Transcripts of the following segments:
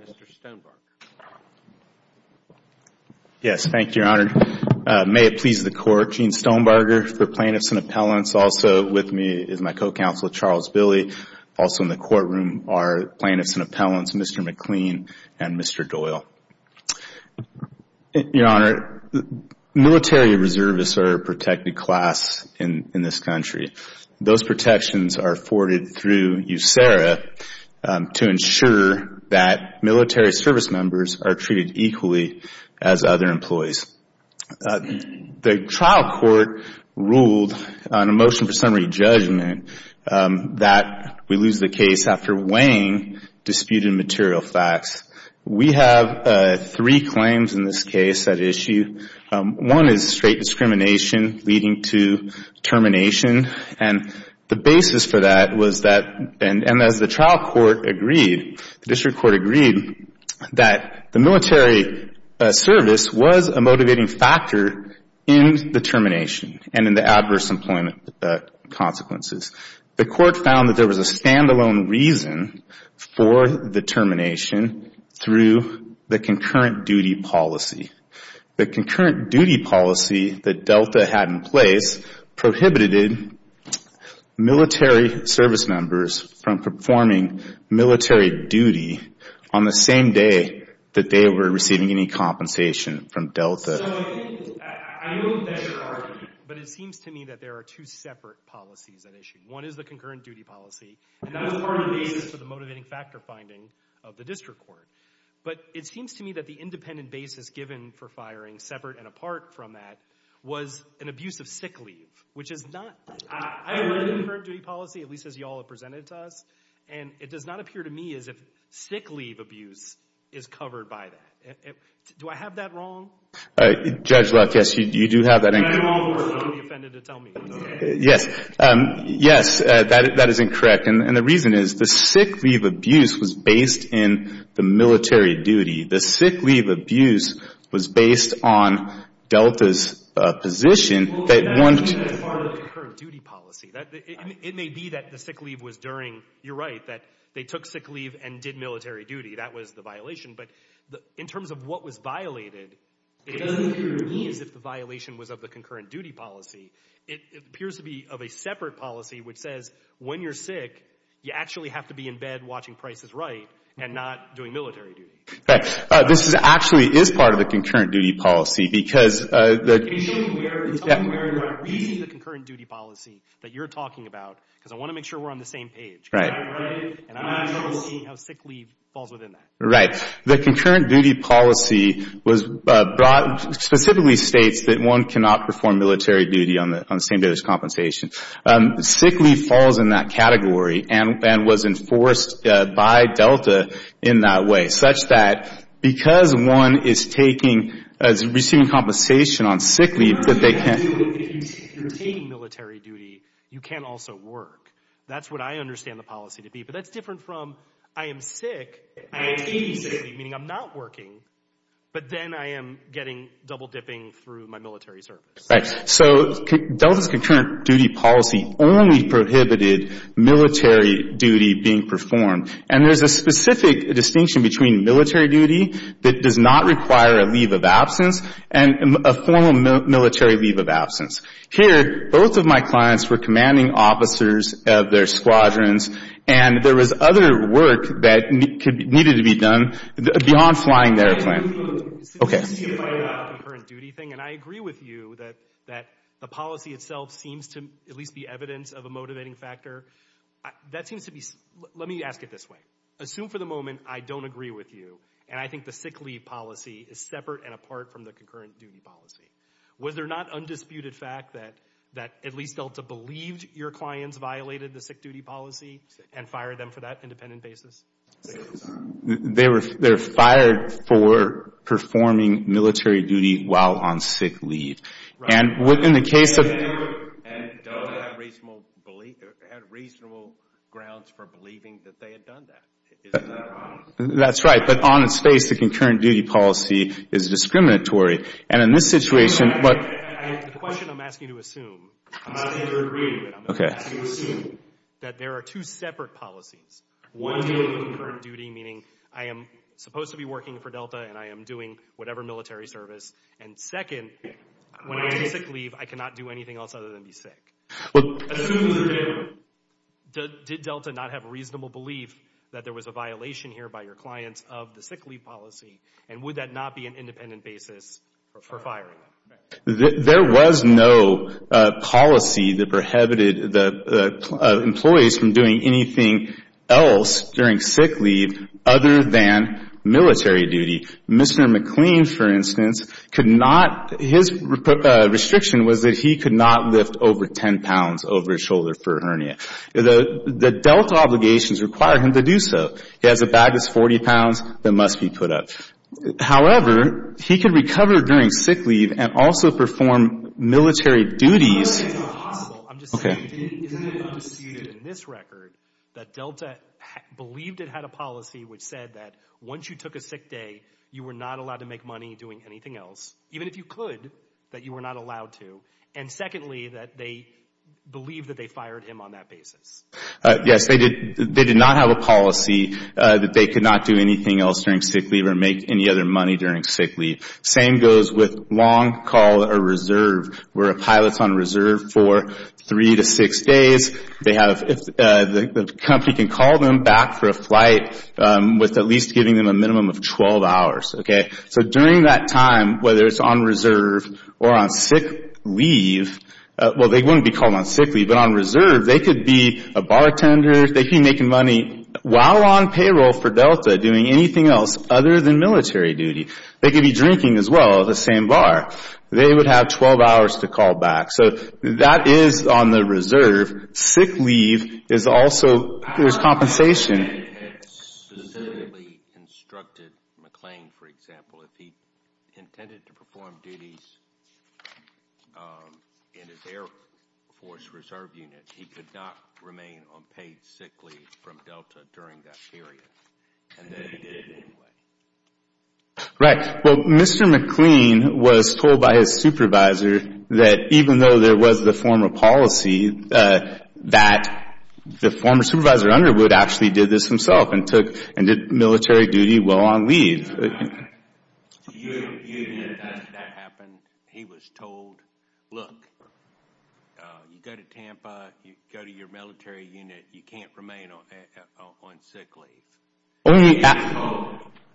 Mr. Stonebarger. Yes, thank you, Your Honor. May it please the Court, Gene Stonebarger for Plaintiffs and Appellants. Also with me is my co-counsel, Charles Billy. Also in the courtroom are Plaintiffs and Appellants, Mr. McLean and Mr. Doyle. Your Honor, military reservists are a protected class in this country. Those protections are afforded through USERRA to ensure that military service members are treated equally as other employees. The trial court ruled on a motion for summary judgment that we lose the case after weighing disputed material facts. We have three claims in this case at issue. One is straight discrimination leading to termination. The basis for that was that, and as the trial court agreed, the district court agreed that the military service was a motivating factor in the termination and in the adverse employment consequences. The court found that there was a stand-alone reason for the termination through the concurrent duty policy. The concurrent duty policy that Delta had in place prohibited military service members from performing military duty on the same day that they were receiving any compensation from Delta. So I know that's your argument, but it seems to me that there are two separate policies at issue. One is the concurrent duty policy, and that was part of the basis for the motivating factor finding of the district court. But it seems to me that the independent basis given for firing separate and apart from that was an abuse of sick leave, which is not... I read the concurrent duty policy, at least as y'all have presented it to us, and it does not appear to me as if sick leave abuse is covered by that. Do I have that wrong? Judge Leff, yes, you do have that incorrectly, so don't be offended to tell me. Yes, that is incorrect, and the reason is the sick leave abuse was based in the military duty. The sick leave abuse was based on Delta's position that one... Well, it may be part of the concurrent duty policy. It may be that the sick leave was during, you're right, that they took sick leave and did military duty. That was the violation. But in terms of what was violated, it doesn't appear to me as if the violation was of the concurrent duty policy. It appears to be of a separate policy which says when you're sick, you actually have to be in bed watching Price is Right and not doing military duty. This actually is part of the concurrent duty policy because... Can you tell me where you are reading the concurrent duty policy that you're talking about? Because I want to make sure we're on the same page, and I want to see how sick leave falls within that. Right. The concurrent duty policy specifically states that one cannot perform military duty on the same day as compensation. Sick leave falls in that category and was enforced by Delta in that way such that because one is taking, is receiving compensation on sick leave that they can't... If you're taking military duty, you can't also work. That's what I understand the policy to be. But that's different from I am sick, I am taking sick leave, meaning I'm not working, but then I am getting double dipping through my military service. Right. So Delta's concurrent duty policy only prohibited military duty being performed. And there's a specific distinction between military duty that does not require a leave of absence and a formal military leave of absence. Here, both of my clients were commanding officers of their squadrons, and there was other work that needed to be done beyond flying the airplane. Okay. This is a concurrent duty thing, and I agree with you that the policy itself seems to at least be evidence of a motivating factor. That seems to be... Let me ask it this way. Assume for the moment I don't agree with you, and I think the sick leave policy is separate and apart from the concurrent duty policy. Was there not undisputed fact that at least Delta believed your clients violated the sick duty policy and fired them for that independent basis? They're fired for performing military duty while on sick leave. And in the case of... Delta had reasonable grounds for believing that they had done that. Isn't that wrong? That's right. But on its face, the concurrent duty policy is discriminatory. And in this situation... The question I'm asking you to assume... I'm asking you to agree to it. Okay. I'm asking you to assume that there are two separate policies. One being concurrent duty, meaning I am supposed to be working for Delta and I am doing whatever military service. And second, when I'm on sick leave, I cannot do anything else other than be sick. Assume for the moment, did Delta not have reasonable belief that there was a violation here by your clients of the sick leave policy? And would that not be an independent basis for firing? There was no policy that prohibited the employees from doing anything else during sick leave other than military duty. Mr. McLean, for instance, could not... His restriction was that he could not lift over 10 pounds over his shoulder for a hernia. The Delta obligations require him to do so. He has a bag that's 40 pounds that must be put up. However, he could recover during sick leave and also perform military duties... I'm not saying it's not possible. I'm just saying... Isn't it undisputed in this record that Delta believed it had a policy which said that once you took a sick day, you were not allowed to make money doing anything else, even if you could, that you were not allowed to? And secondly, that they believed that they fired him on that basis? Yes, they did not have a policy that they could not do anything else during sick leave or make any other money during sick leave. Same goes with long call or reserve, where a pilot's on reserve for three to six days. They have... The company can call them back for a flight with at least giving them a minimum of 12 hours. So during that time, whether it's on reserve or on sick leave... Well, they wouldn't be called on sick leave, but on reserve, they could be a bartender. They could be making money while on payroll for Delta doing anything else other than military duty. They could be drinking as well at the same bar. They would have 12 hours to call back. So that is on the reserve. Sick leave is also... There's compensation. ...had specifically instructed McLean, for example, if he intended to perform duties in his Air Force Reserve Unit, he could not remain unpaid sick leave from Delta during that period. And then he did it anyway. Right. Well, Mr. McLean was told by his supervisor that even though there was the former policy, that the former supervisor Underwood actually did this himself and did military duty while on leave. Even if that happened, he was told, look, you go to Tampa, you go to your military unit, you can't remain on sick leave. Only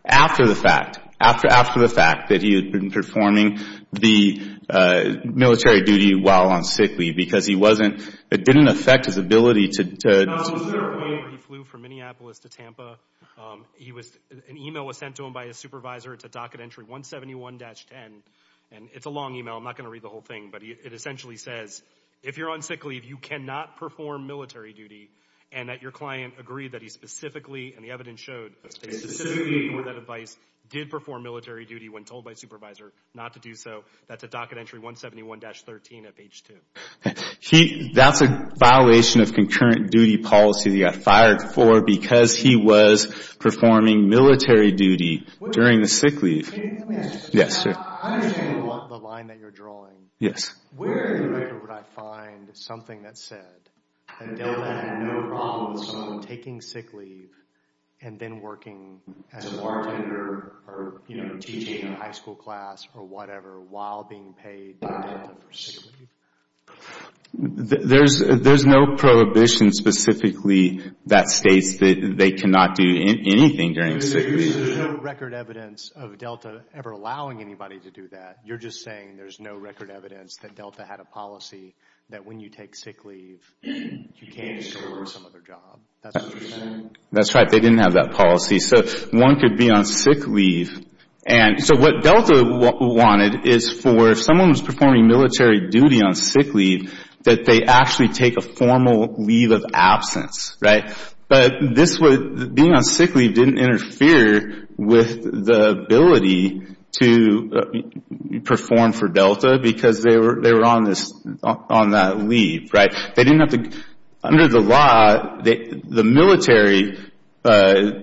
after the fact. After the fact that he had been performing the military duty while on sick leave. Because he wasn't... It didn't affect his ability to... No, Mr. McLean flew from Minneapolis to Tampa. An email was sent to him by his supervisor. It's a docket entry 171-10. And it's a long email. I'm not going to read the whole thing. But it essentially says, if you're on sick leave, you cannot perform military duty. And that your client agreed that he specifically, and the evidence showed, that he specifically with that advice did perform military duty when told by his supervisor not to do so. That's a docket entry 171-13 at page 2. That's a violation of concurrent duty policy that he got fired for because he was performing military duty during the sick leave. Yes, sir. I understand the line that you're drawing. Yes. Where in the record would I find something that said, Adele had no problem with someone taking sick leave and then working as a bartender or teaching a high school class or whatever while being paid by Delta for sick leave? There's no prohibition specifically that states that they cannot do anything during sick leave. There's no record evidence of Delta ever allowing anybody to do that. You're just saying there's no record evidence that Delta had a policy that when you take sick leave, you can't just go work some other job. That's what you're saying? That's right. They didn't have that policy. One could be on sick leave. What Delta wanted is for if someone was performing military duty on sick leave, that they actually take a formal leave of absence. But being on sick leave didn't interfere with the ability to perform for Delta because they were on that leave. Under the law, the military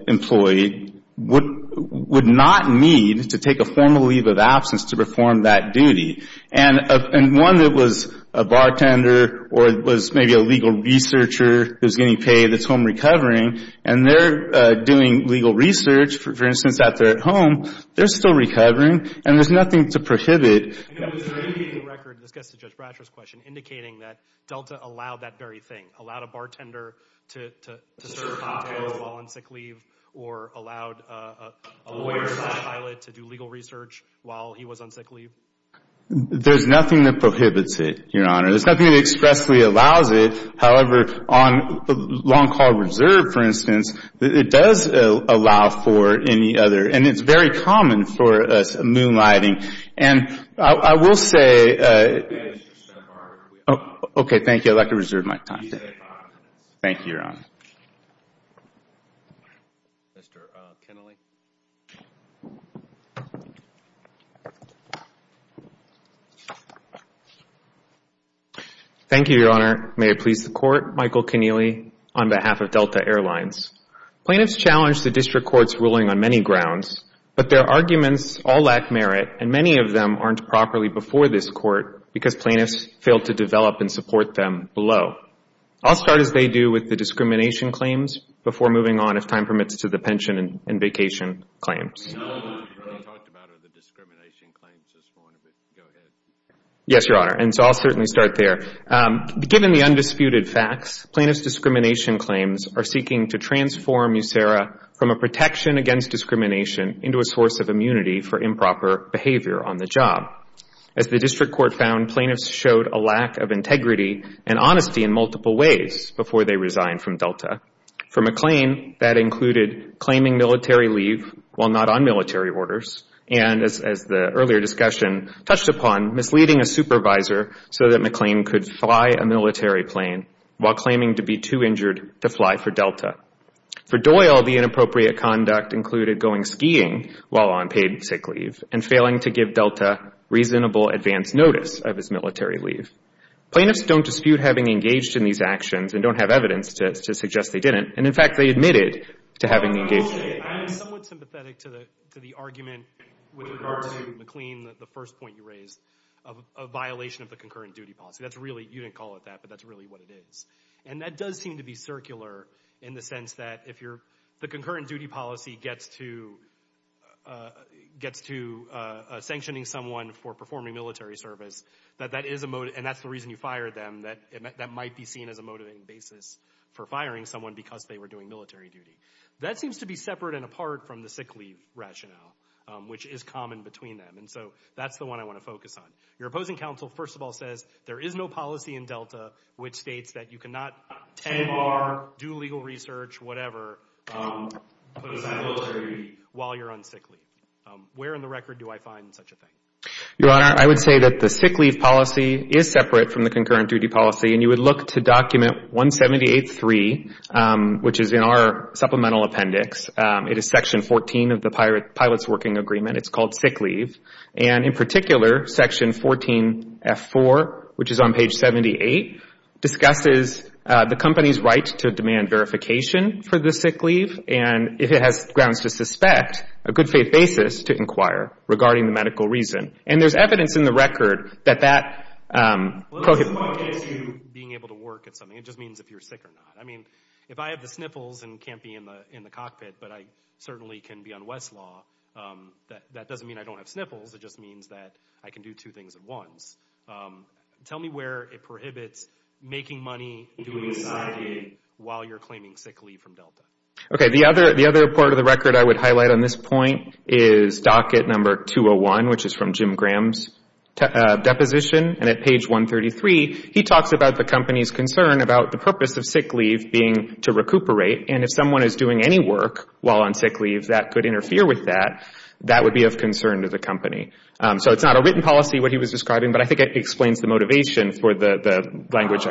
employee would not need to take a formal leave of absence to perform that duty. And one that was a bartender or was maybe a legal researcher who was getting paid that's home recovering, and they're doing legal research, for instance, out there at home, they're still recovering, and there's nothing to prohibit. Is there anything in the record that gets to Judge Bratcher's question indicating that Delta allowed that very thing? Allowed a bartender to serve cocktails while on sick leave or allowed a lawyer to do legal research while he was on sick leave? There's nothing that prohibits it, Your Honor. There's nothing that expressly allows it. However, on Long Call Reserve, for instance, it does allow for any other. And it's very common for moonlighting. And I will say, okay, thank you. I'd like to reserve my time today. Thank you, Your Honor. Mr. Kennelly. Thank you, Your Honor. May it please the Court, Michael Kennelly on behalf of Delta Airlines. Plaintiffs challenged the district court's ruling on many grounds, but their arguments all lack merit, and many of them aren't properly before this Court because plaintiffs failed to develop and support them below. I'll start, as they do, with the discrimination claims before moving on, if time permits, to the pension and vacation claims. Yes, Your Honor. And so I'll certainly start there. Given the undisputed facts, plaintiffs' discrimination claims are seeking to transform USERRA from a protection against discrimination into a source of immunity for improper behavior on the job. As the district court found, plaintiffs showed a lack of integrity and honesty in multiple ways before they resigned from Delta. For McLean, that included claiming military leave while not on military orders and, as the earlier discussion touched upon, misleading a supervisor so that McLean could fly a military plane while claiming to be too injured to fly for Delta. For Doyle, the inappropriate conduct included going skiing while on paid sick leave and failing to give Delta reasonable advance notice of his military leave. Plaintiffs don't dispute having engaged in these actions and don't have evidence to suggest they didn't, and, in fact, they admitted to having engaged in it. I'm somewhat sympathetic to the argument with regard to McLean, the first point you raised, of a violation of the concurrent duty policy. You didn't call it that, but that's really what it is. And that does seem to be circular in the sense that if the concurrent duty policy gets to sanctioning someone for performing military service, and that's the reason you fired them, that might be seen as a motivating basis for firing someone because they were doing military duty. That seems to be separate and apart from the sick leave rationale, which is common between them, and so that's the one I want to focus on. Your opposing counsel, first of all, says there is no policy in Delta which states that you cannot tenure, do legal research, whatever, while you're on sick leave. Where in the record do I find such a thing? Your Honor, I would say that the sick leave policy is separate from the concurrent duty policy, and you would look to document 178.3, which is in our supplemental appendix. It is section 14 of the pilot's working agreement. It's called sick leave. And in particular, section 14F4, which is on page 78, discusses the company's right to demand verification for the sick leave and, if it has grounds to suspect, a good faith basis to inquire regarding the medical reason. And there's evidence in the record that that prohibits you being able to work at something. It just means if you're sick or not. I mean, if I have the sniffles and can't be in the cockpit, but I certainly can be on Westlaw, that doesn't mean I don't have sniffles. It just means that I can do two things at once. Tell me where it prohibits making money while you're claiming sick leave from Delta. Okay, the other part of the record I would highlight on this point is docket number 201, which is from Jim Graham's deposition. And at page 133, he talks about the company's concern about the purpose of sick leave being to recuperate. And if someone is doing any work while on sick leave that could interfere with that, that would be of concern to the company. So it's not a written policy, what he was describing, but I think it explains the motivation for the language.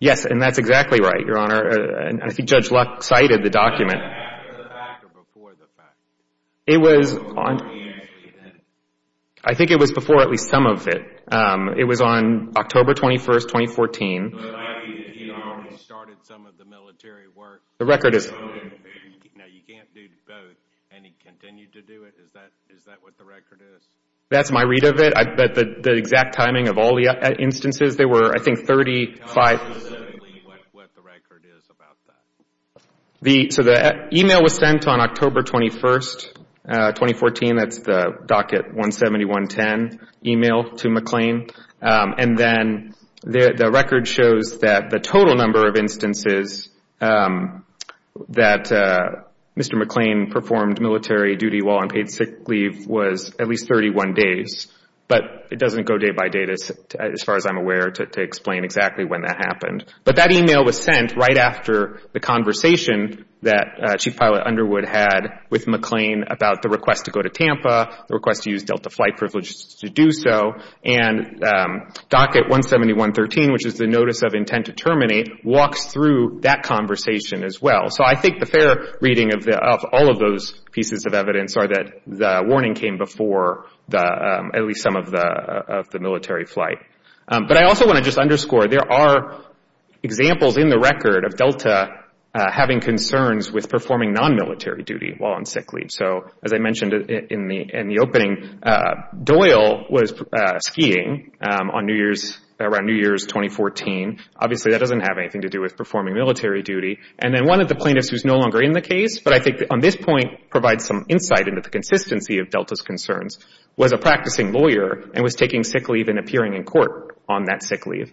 Yes, and that's exactly right, Your Honor. I think Judge Luck cited the document. I think it was before at least some of it. It was on October 21, 2014. That's my read of it. The exact timing of all the instances, there were, I think, 35. So the email was sent on October 21, 2014. That's the docket 17110 email to McLean. And then the record shows that the total number of instances that Mr. McLean performed military duty while on paid sick leave was at least 31 days. But it doesn't go day by day as far as I'm aware to explain exactly when that happened. But that email was sent right after the conversation that Chief Pilot Underwood had with McLean about the request to go to Tampa, the request to use Delta flight privileges to do so. And docket 17113, which is the notice of intent to terminate, walks through that conversation as well. So I think the fair reading of all of those pieces of evidence are that the warning came before at least some of the military flight. But I also want to just underscore there are examples in the record of Delta having concerns with performing non-military duty while on sick leave. So as I mentioned in the opening, Doyle was skiing on New Year's, around New Year's 2014. Obviously, that doesn't have anything to do with performing military duty. And then one of the plaintiffs who's no longer in the case, but I think on this point provides some insight into the consistency of Delta's concerns, was a practicing lawyer and was taking sick leave and appearing in court on that sick leave.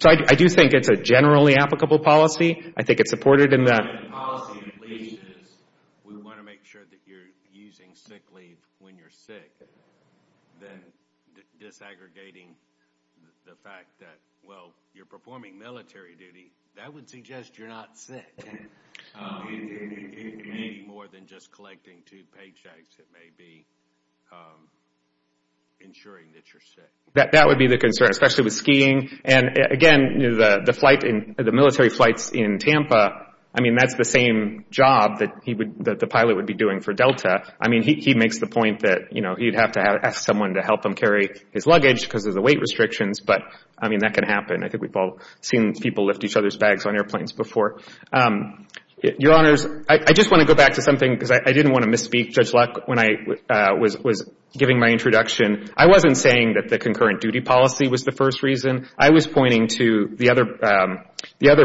So I do think it's a generally applicable policy. I think it's supported in that. The policy, at least, is we want to make sure that you're using sick leave when you're sick than disaggregating the fact that, well, you're performing military duty. That would suggest you're not sick. It may be more than just collecting two paychecks. It may be ensuring that you're sick. That would be the concern, especially with skiing. And, again, the military flights in Tampa, I mean, that's the same job that the pilot would be doing for Delta. I mean, he makes the point that he'd have to ask someone to help him carry his luggage because of the weight restrictions. But, I mean, that can happen. I think we've all seen people lift each other's bags on airplanes before. Your Honors, I just want to go back to something because I didn't want to misspeak, Judge Luck, when I was giving my introduction. I wasn't saying that the concurrent duty policy was the first reason. I was pointing to the other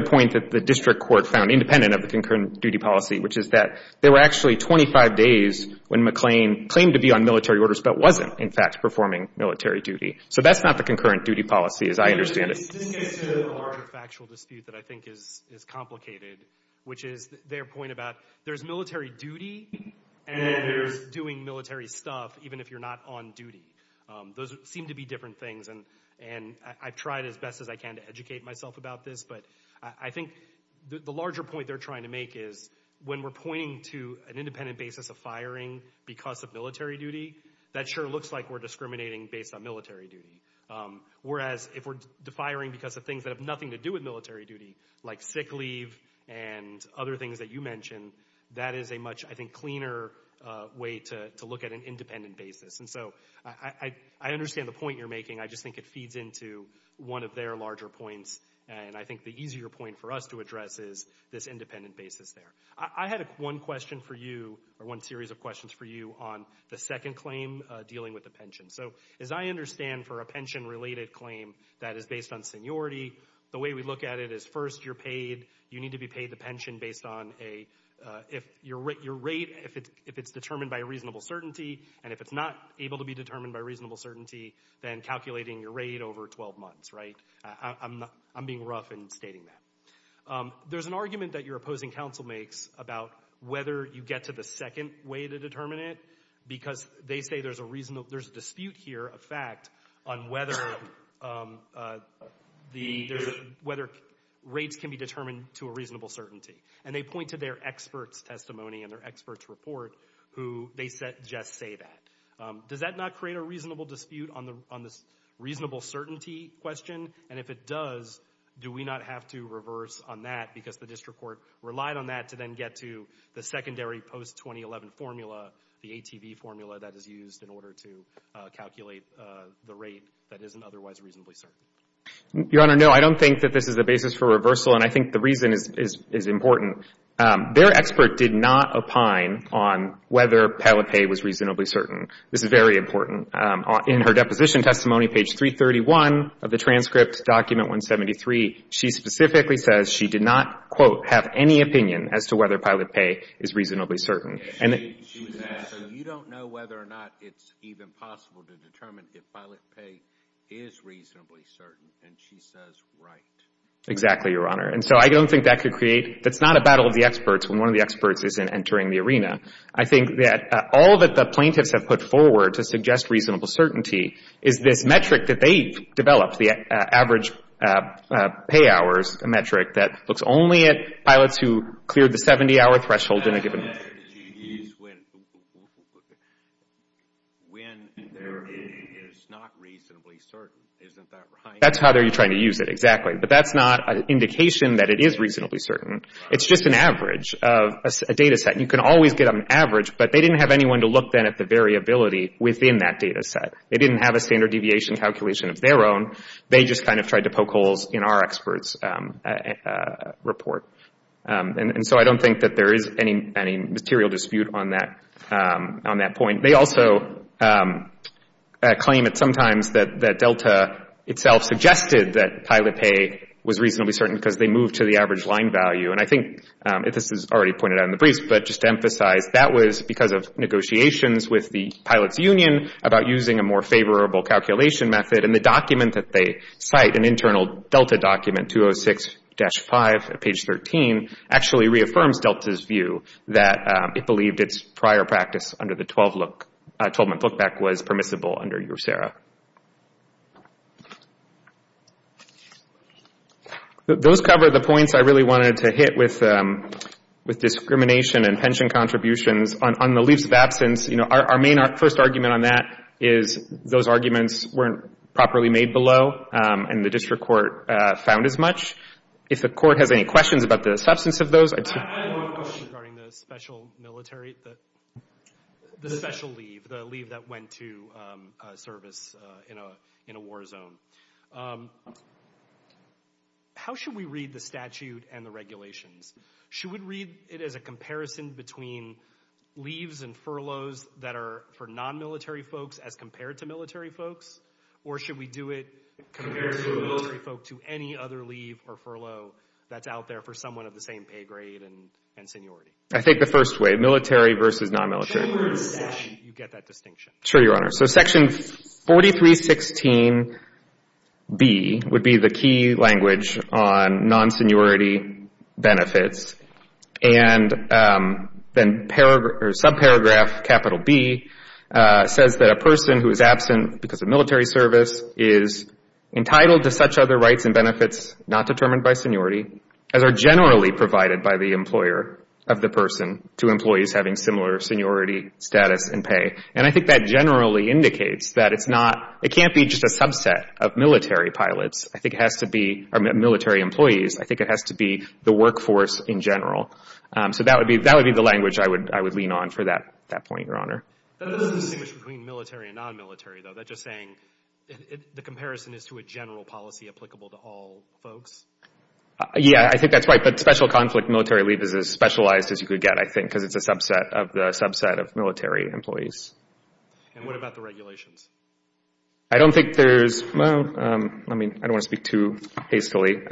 point that the district court found independent of the concurrent duty policy, which is that there were actually 25 days when McLean claimed to be on military orders but wasn't, in fact, performing military duty. So that's not the concurrent duty policy as I understand it. This gets to a larger factual dispute that I think is complicated, which is their point about there's military duty and then there's doing military stuff even if you're not on duty. Those seem to be different things, and I've tried as best as I can to educate myself about this. But I think the larger point they're trying to make is when we're pointing to an independent basis of firing because of military duty, that sure looks like we're discriminating based on military duty. Whereas if we're defiering because of things that have nothing to do with military duty, like sick leave and other things that you mentioned, that is a much, I think, cleaner way to look at an independent basis. And so I understand the point you're making. I just think it feeds into one of their larger points, and I think the easier point for us to address is this independent basis there. I had one question for you or one series of questions for you on the second claim dealing with the pension. So as I understand for a pension-related claim that is based on seniority, the way we look at it is first you're paid. You need to be paid the pension based on your rate if it's determined by reasonable certainty, and if it's not able to be determined by reasonable certainty, then calculating your rate over 12 months, right? I'm being rough in stating that. There's an argument that your opposing counsel makes about whether you get to the second way to determine it because they say there's a dispute here, a fact, on whether rates can be determined to a reasonable certainty, and they point to their expert's testimony and their expert's report who they suggest say that. Does that not create a reasonable dispute on this reasonable certainty question? And if it does, do we not have to reverse on that because the district court relied on that to then get to the secondary post-2011 formula, the ATV formula that is used in order to calculate the rate that isn't otherwise reasonably certain? Your Honor, no, I don't think that this is the basis for reversal, and I think the reason is important. Their expert did not opine on whether pilot pay was reasonably certain. This is very important. In her deposition testimony, page 331 of the transcript, document 173, she specifically says she did not, quote, have any opinion as to whether pilot pay is reasonably certain. So you don't know whether or not it's even possible to determine if pilot pay is reasonably certain, and she says right. Exactly, Your Honor. And so I don't think that could create — that's not a battle of the experts when one of the experts isn't entering the arena. I think that all that the plaintiffs have put forward to suggest reasonable certainty is this metric that they've developed, the average pay hours metric that looks only at pilots who cleared the 70-hour threshold in a given month. She used when there is not reasonably certain. Isn't that right? That's how they're trying to use it, exactly. But that's not an indication that it is reasonably certain. It's just an average of a data set. You can always get an average, but they didn't have anyone to look then at the variability within that data set. They didn't have a standard deviation calculation of their own. They just kind of tried to poke holes in our experts' report. And so I don't think that there is any material dispute on that point. They also claim it sometimes that Delta itself suggested that pilot pay was reasonably certain because they moved to the average line value. And I think this is already pointed out in the briefs, but just to emphasize, that was because of negotiations with the pilots' union about using a more favorable calculation method. And the document that they cite, an internal Delta document, 206-5 at page 13, actually reaffirms Delta's view that it believed its prior practice under the 12-month look-back was permissible under USERRA. Those cover the points I really wanted to hit with discrimination and pension contributions. On the leaves of absence, you know, our main first argument on that is those arguments weren't properly made below, and the district court found as much. If the court has any questions about the substance of those, I'd see. I had one question regarding the special military, the special leave, the leave that went to service in a war zone. How should we read the statute and the regulations? Should we read it as a comparison between leaves and furloughs that are for non-military folks as compared to military folks? Or should we do it compared to military folk to any other leave or furlough that's out there for someone of the same pay grade and seniority? I think the first way, military versus non-military. Should we read the statute? You get that distinction. Sure, Your Honor. So Section 4316B would be the key language on non-seniority benefits. And then subparagraph capital B says that a person who is absent because of military service is entitled to such other rights and benefits not determined by seniority as are generally provided by the employer of the person to employees having similar seniority status and pay. And I think that generally indicates that it's not, it can't be just a subset of military pilots. I think it has to be, or military employees. I think it has to be the workforce in general. So that would be the language I would lean on for that point, Your Honor. That doesn't distinguish between military and non-military, though. That's just saying the comparison is to a general policy applicable to all folks. Yeah, I think that's right. But special conflict military leave is as specialized as you could get, I think, because it's a subset of the subset of military employees. And what about the regulations? I don't think there's, well, I mean, I don't want to speak too hastily. Yes,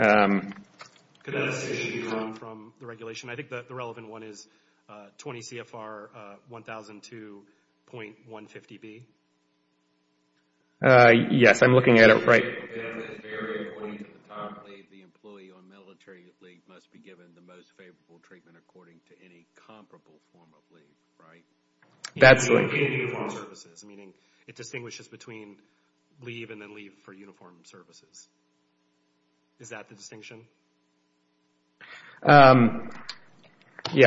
I'm looking at it right. The employee on military leave must be given the most favorable treatment according to any comparable form of leave, right? In uniform services, meaning it distinguishes between leave and then leave for uniform services. Is that the distinction? Yeah,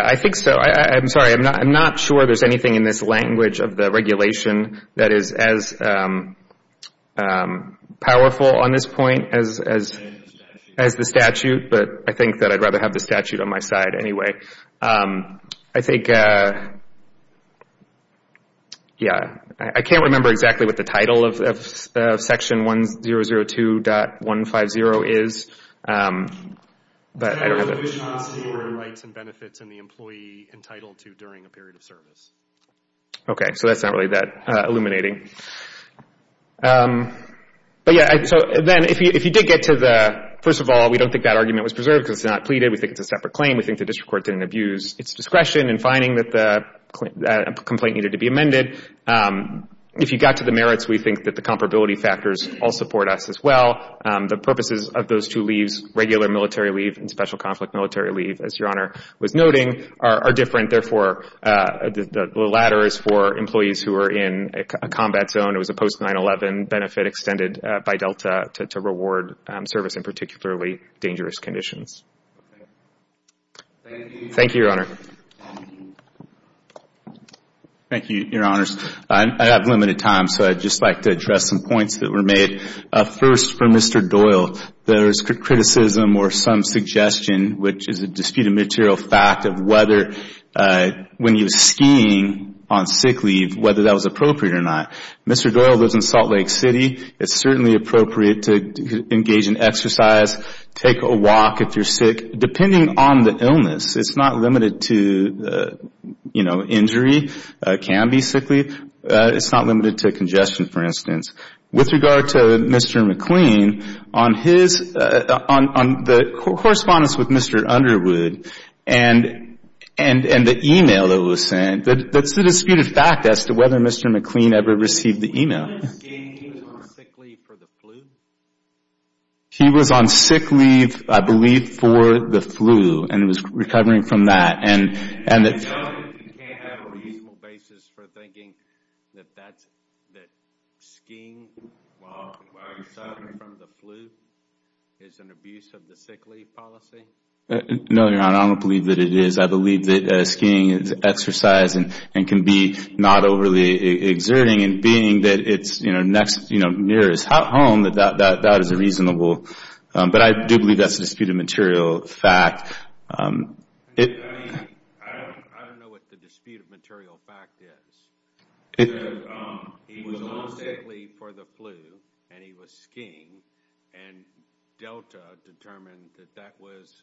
I think so. I'm sorry, I'm not sure there's anything in this language of the regulation that is as powerful on this point as the statute. But I think that I'd rather have the statute on my side anyway. I think, yeah, I can't remember exactly what the title of section 1002.150 is. But I don't have it. Okay, so that's not really that illuminating. But yeah, so then if you did get to the, first of all, we don't think that argument was preserved because it's not pleaded. We think it's a separate claim. We think the district court didn't abuse its discretion in finding that the complaint needed to be amended. If you got to the merits, we think that the comparability factors all support us as well. The purposes of those two leaves, regular military leave and special conflict military leave, as Your Honor was noting, are different. Therefore, the latter is for employees who are in a combat zone. It was a post-9-11 benefit extended by Delta to reward service in particularly dangerous conditions. Thank you, Your Honor. Thank you, Your Honors. I have limited time, so I'd just like to address some points that were made. First, for Mr. Doyle, there's criticism or some suggestion, which is a disputed material fact, of whether when he was skiing on sick leave, whether that was appropriate or not. Mr. Doyle lives in Salt Lake City. It's certainly appropriate to engage in exercise, take a walk if you're sick, depending on the illness. It's not limited to injury. It can be sick leave. It's not limited to congestion, for instance. With regard to Mr. McLean, on the correspondence with Mr. Underwood and the email that was sent, that's a disputed fact as to whether Mr. McLean ever received the email. He was skiing on sick leave for the flu? He was on sick leave, I believe, for the flu and was recovering from that. So you can't have a reasonable basis for thinking that skiing while you're sick in front of the flu is an abuse of the sick leave policy? No, Your Honor, I don't believe that it is. I believe that skiing is exercise and can be not overly exerting, and being that it's near his home, that that is reasonable. But I do believe that's a disputed material fact. I don't know what the disputed material fact is. He was on sick leave for the flu, and he was skiing, and Delta determined that that was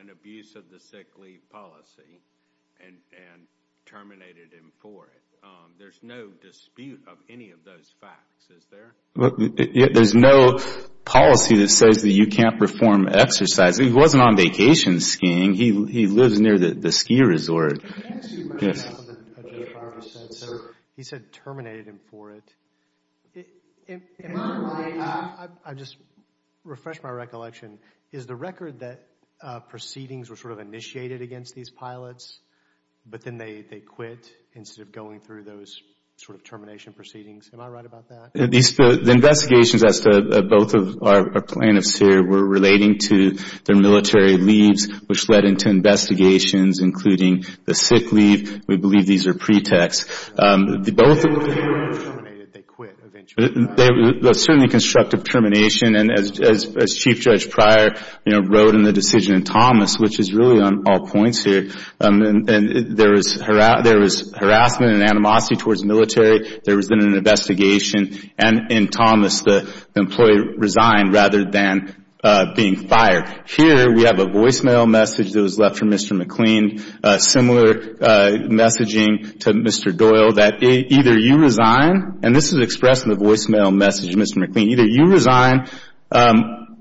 an abuse of the sick leave policy and terminated him for it. There's no dispute of any of those facts, is there? There's no policy that says that you can't perform exercise. He wasn't on vacation skiing. He lives near the ski resort. Can I ask you a question about what Judge Barber said? He said terminated him for it. I just refreshed my recollection. Is the record that proceedings were sort of initiated against these pilots, but then they quit instead of going through those sort of termination proceedings? Am I right about that? The investigations as to both of our plaintiffs here were relating to their military leaves, which led into investigations, including the sick leave. We believe these are pretexts. Both of them were terminated. They quit eventually. There was certainly constructive termination, and as Chief Judge Pryor wrote in the decision in Thomas, which is really on all points here, there was harassment and animosity towards the military. There was then an investigation, and in Thomas, the employee resigned rather than being fired. Here we have a voicemail message that was left from Mr. McLean, similar messaging to Mr. Doyle, that either you resign, and this is expressed in the voicemail message of Mr. McLean, either you resign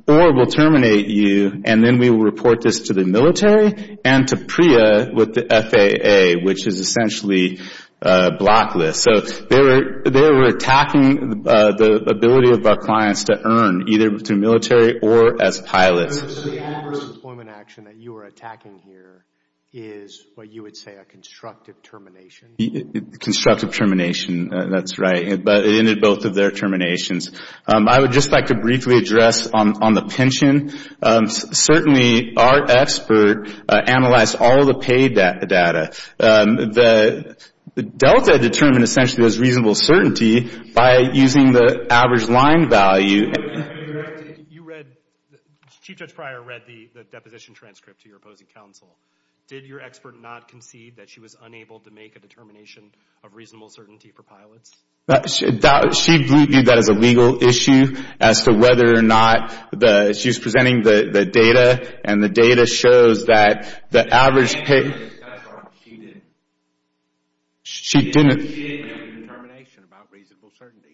or we'll terminate you, and then we will report this to the military and to PREA with the FAA, which is essentially a blacklist. So they were attacking the ability of our clients to earn either through military or as pilots. So the adverse employment action that you were attacking here is what you would say a constructive termination? Constructive termination, that's right, but it ended both of their terminations. I would just like to briefly address on the pension. Certainly, our expert analyzed all the paid data. Delta determined essentially it was reasonable certainty by using the average line value. You read, Chief Judge Pryor read the deposition transcript to your opposing counsel. Did your expert not concede that she was unable to make a determination of reasonable certainty for pilots? She viewed that as a legal issue as to whether or not she was presenting the data, and the data shows that the average pay She didn't make a determination about reasonable certainty.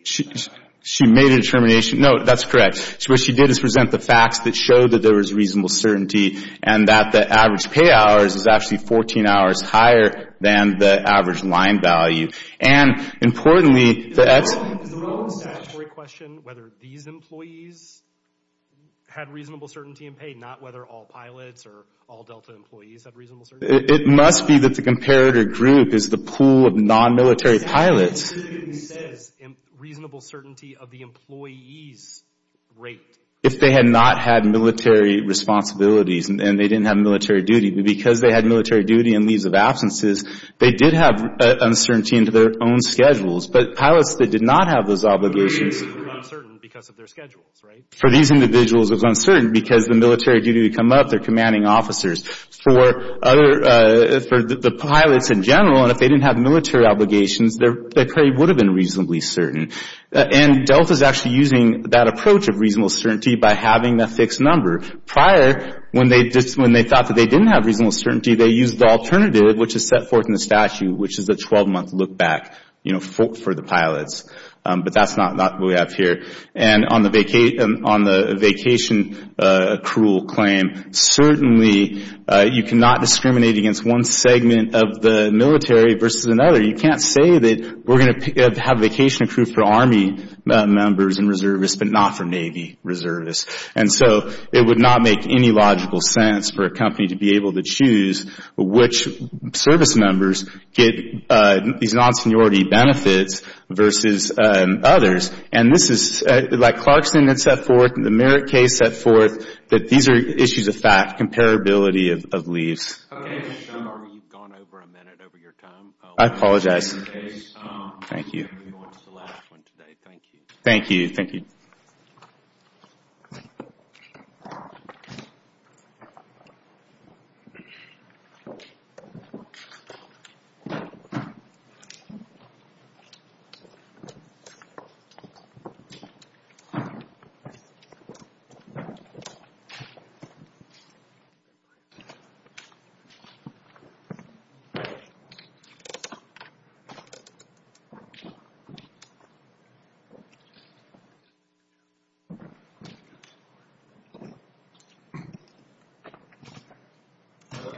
She made a determination. No, that's correct. What she did is present the facts that showed that there was reasonable certainty and that the average pay hours is actually 14 hours higher than the average line value. And importantly, that's Is the role of the statutory question whether these employees had reasonable certainty in pay, not whether all pilots or all Delta employees had reasonable certainty? It must be that the comparator group is the pool of non-military pilots. It specifically says reasonable certainty of the employees' rate. If they had not had military responsibilities and they didn't have military duty, because they had military duty and leaves of absences, they did have uncertainty in their own schedules. But pilots that did not have those obligations were uncertain because of their schedules, right? For these individuals, it was uncertain because the military duty to come up, they're commanding officers. For the pilots in general, and if they didn't have military obligations, their pay would have been reasonably certain. And Delta is actually using that approach of reasonable certainty by having a fixed number. Prior, when they thought that they didn't have reasonable certainty, they used the alternative, which is set forth in the statute, which is a 12-month look back for the pilots. But that's not what we have here. And on the vacation accrual claim, certainly you cannot discriminate against one segment of the military versus another. You can't say that we're going to have vacation accrued for Army members and reservists but not for Navy reservists. And so it would not make any logical sense for a company to be able to choose which service members get these non-seniority benefits versus others. And this is like Clarkson had set forth, the Merritt case set forth, that these are issues of fact, comparability of leaves. You've gone over a minute over your time. I apologize. Thank you. Thank you. Thank you.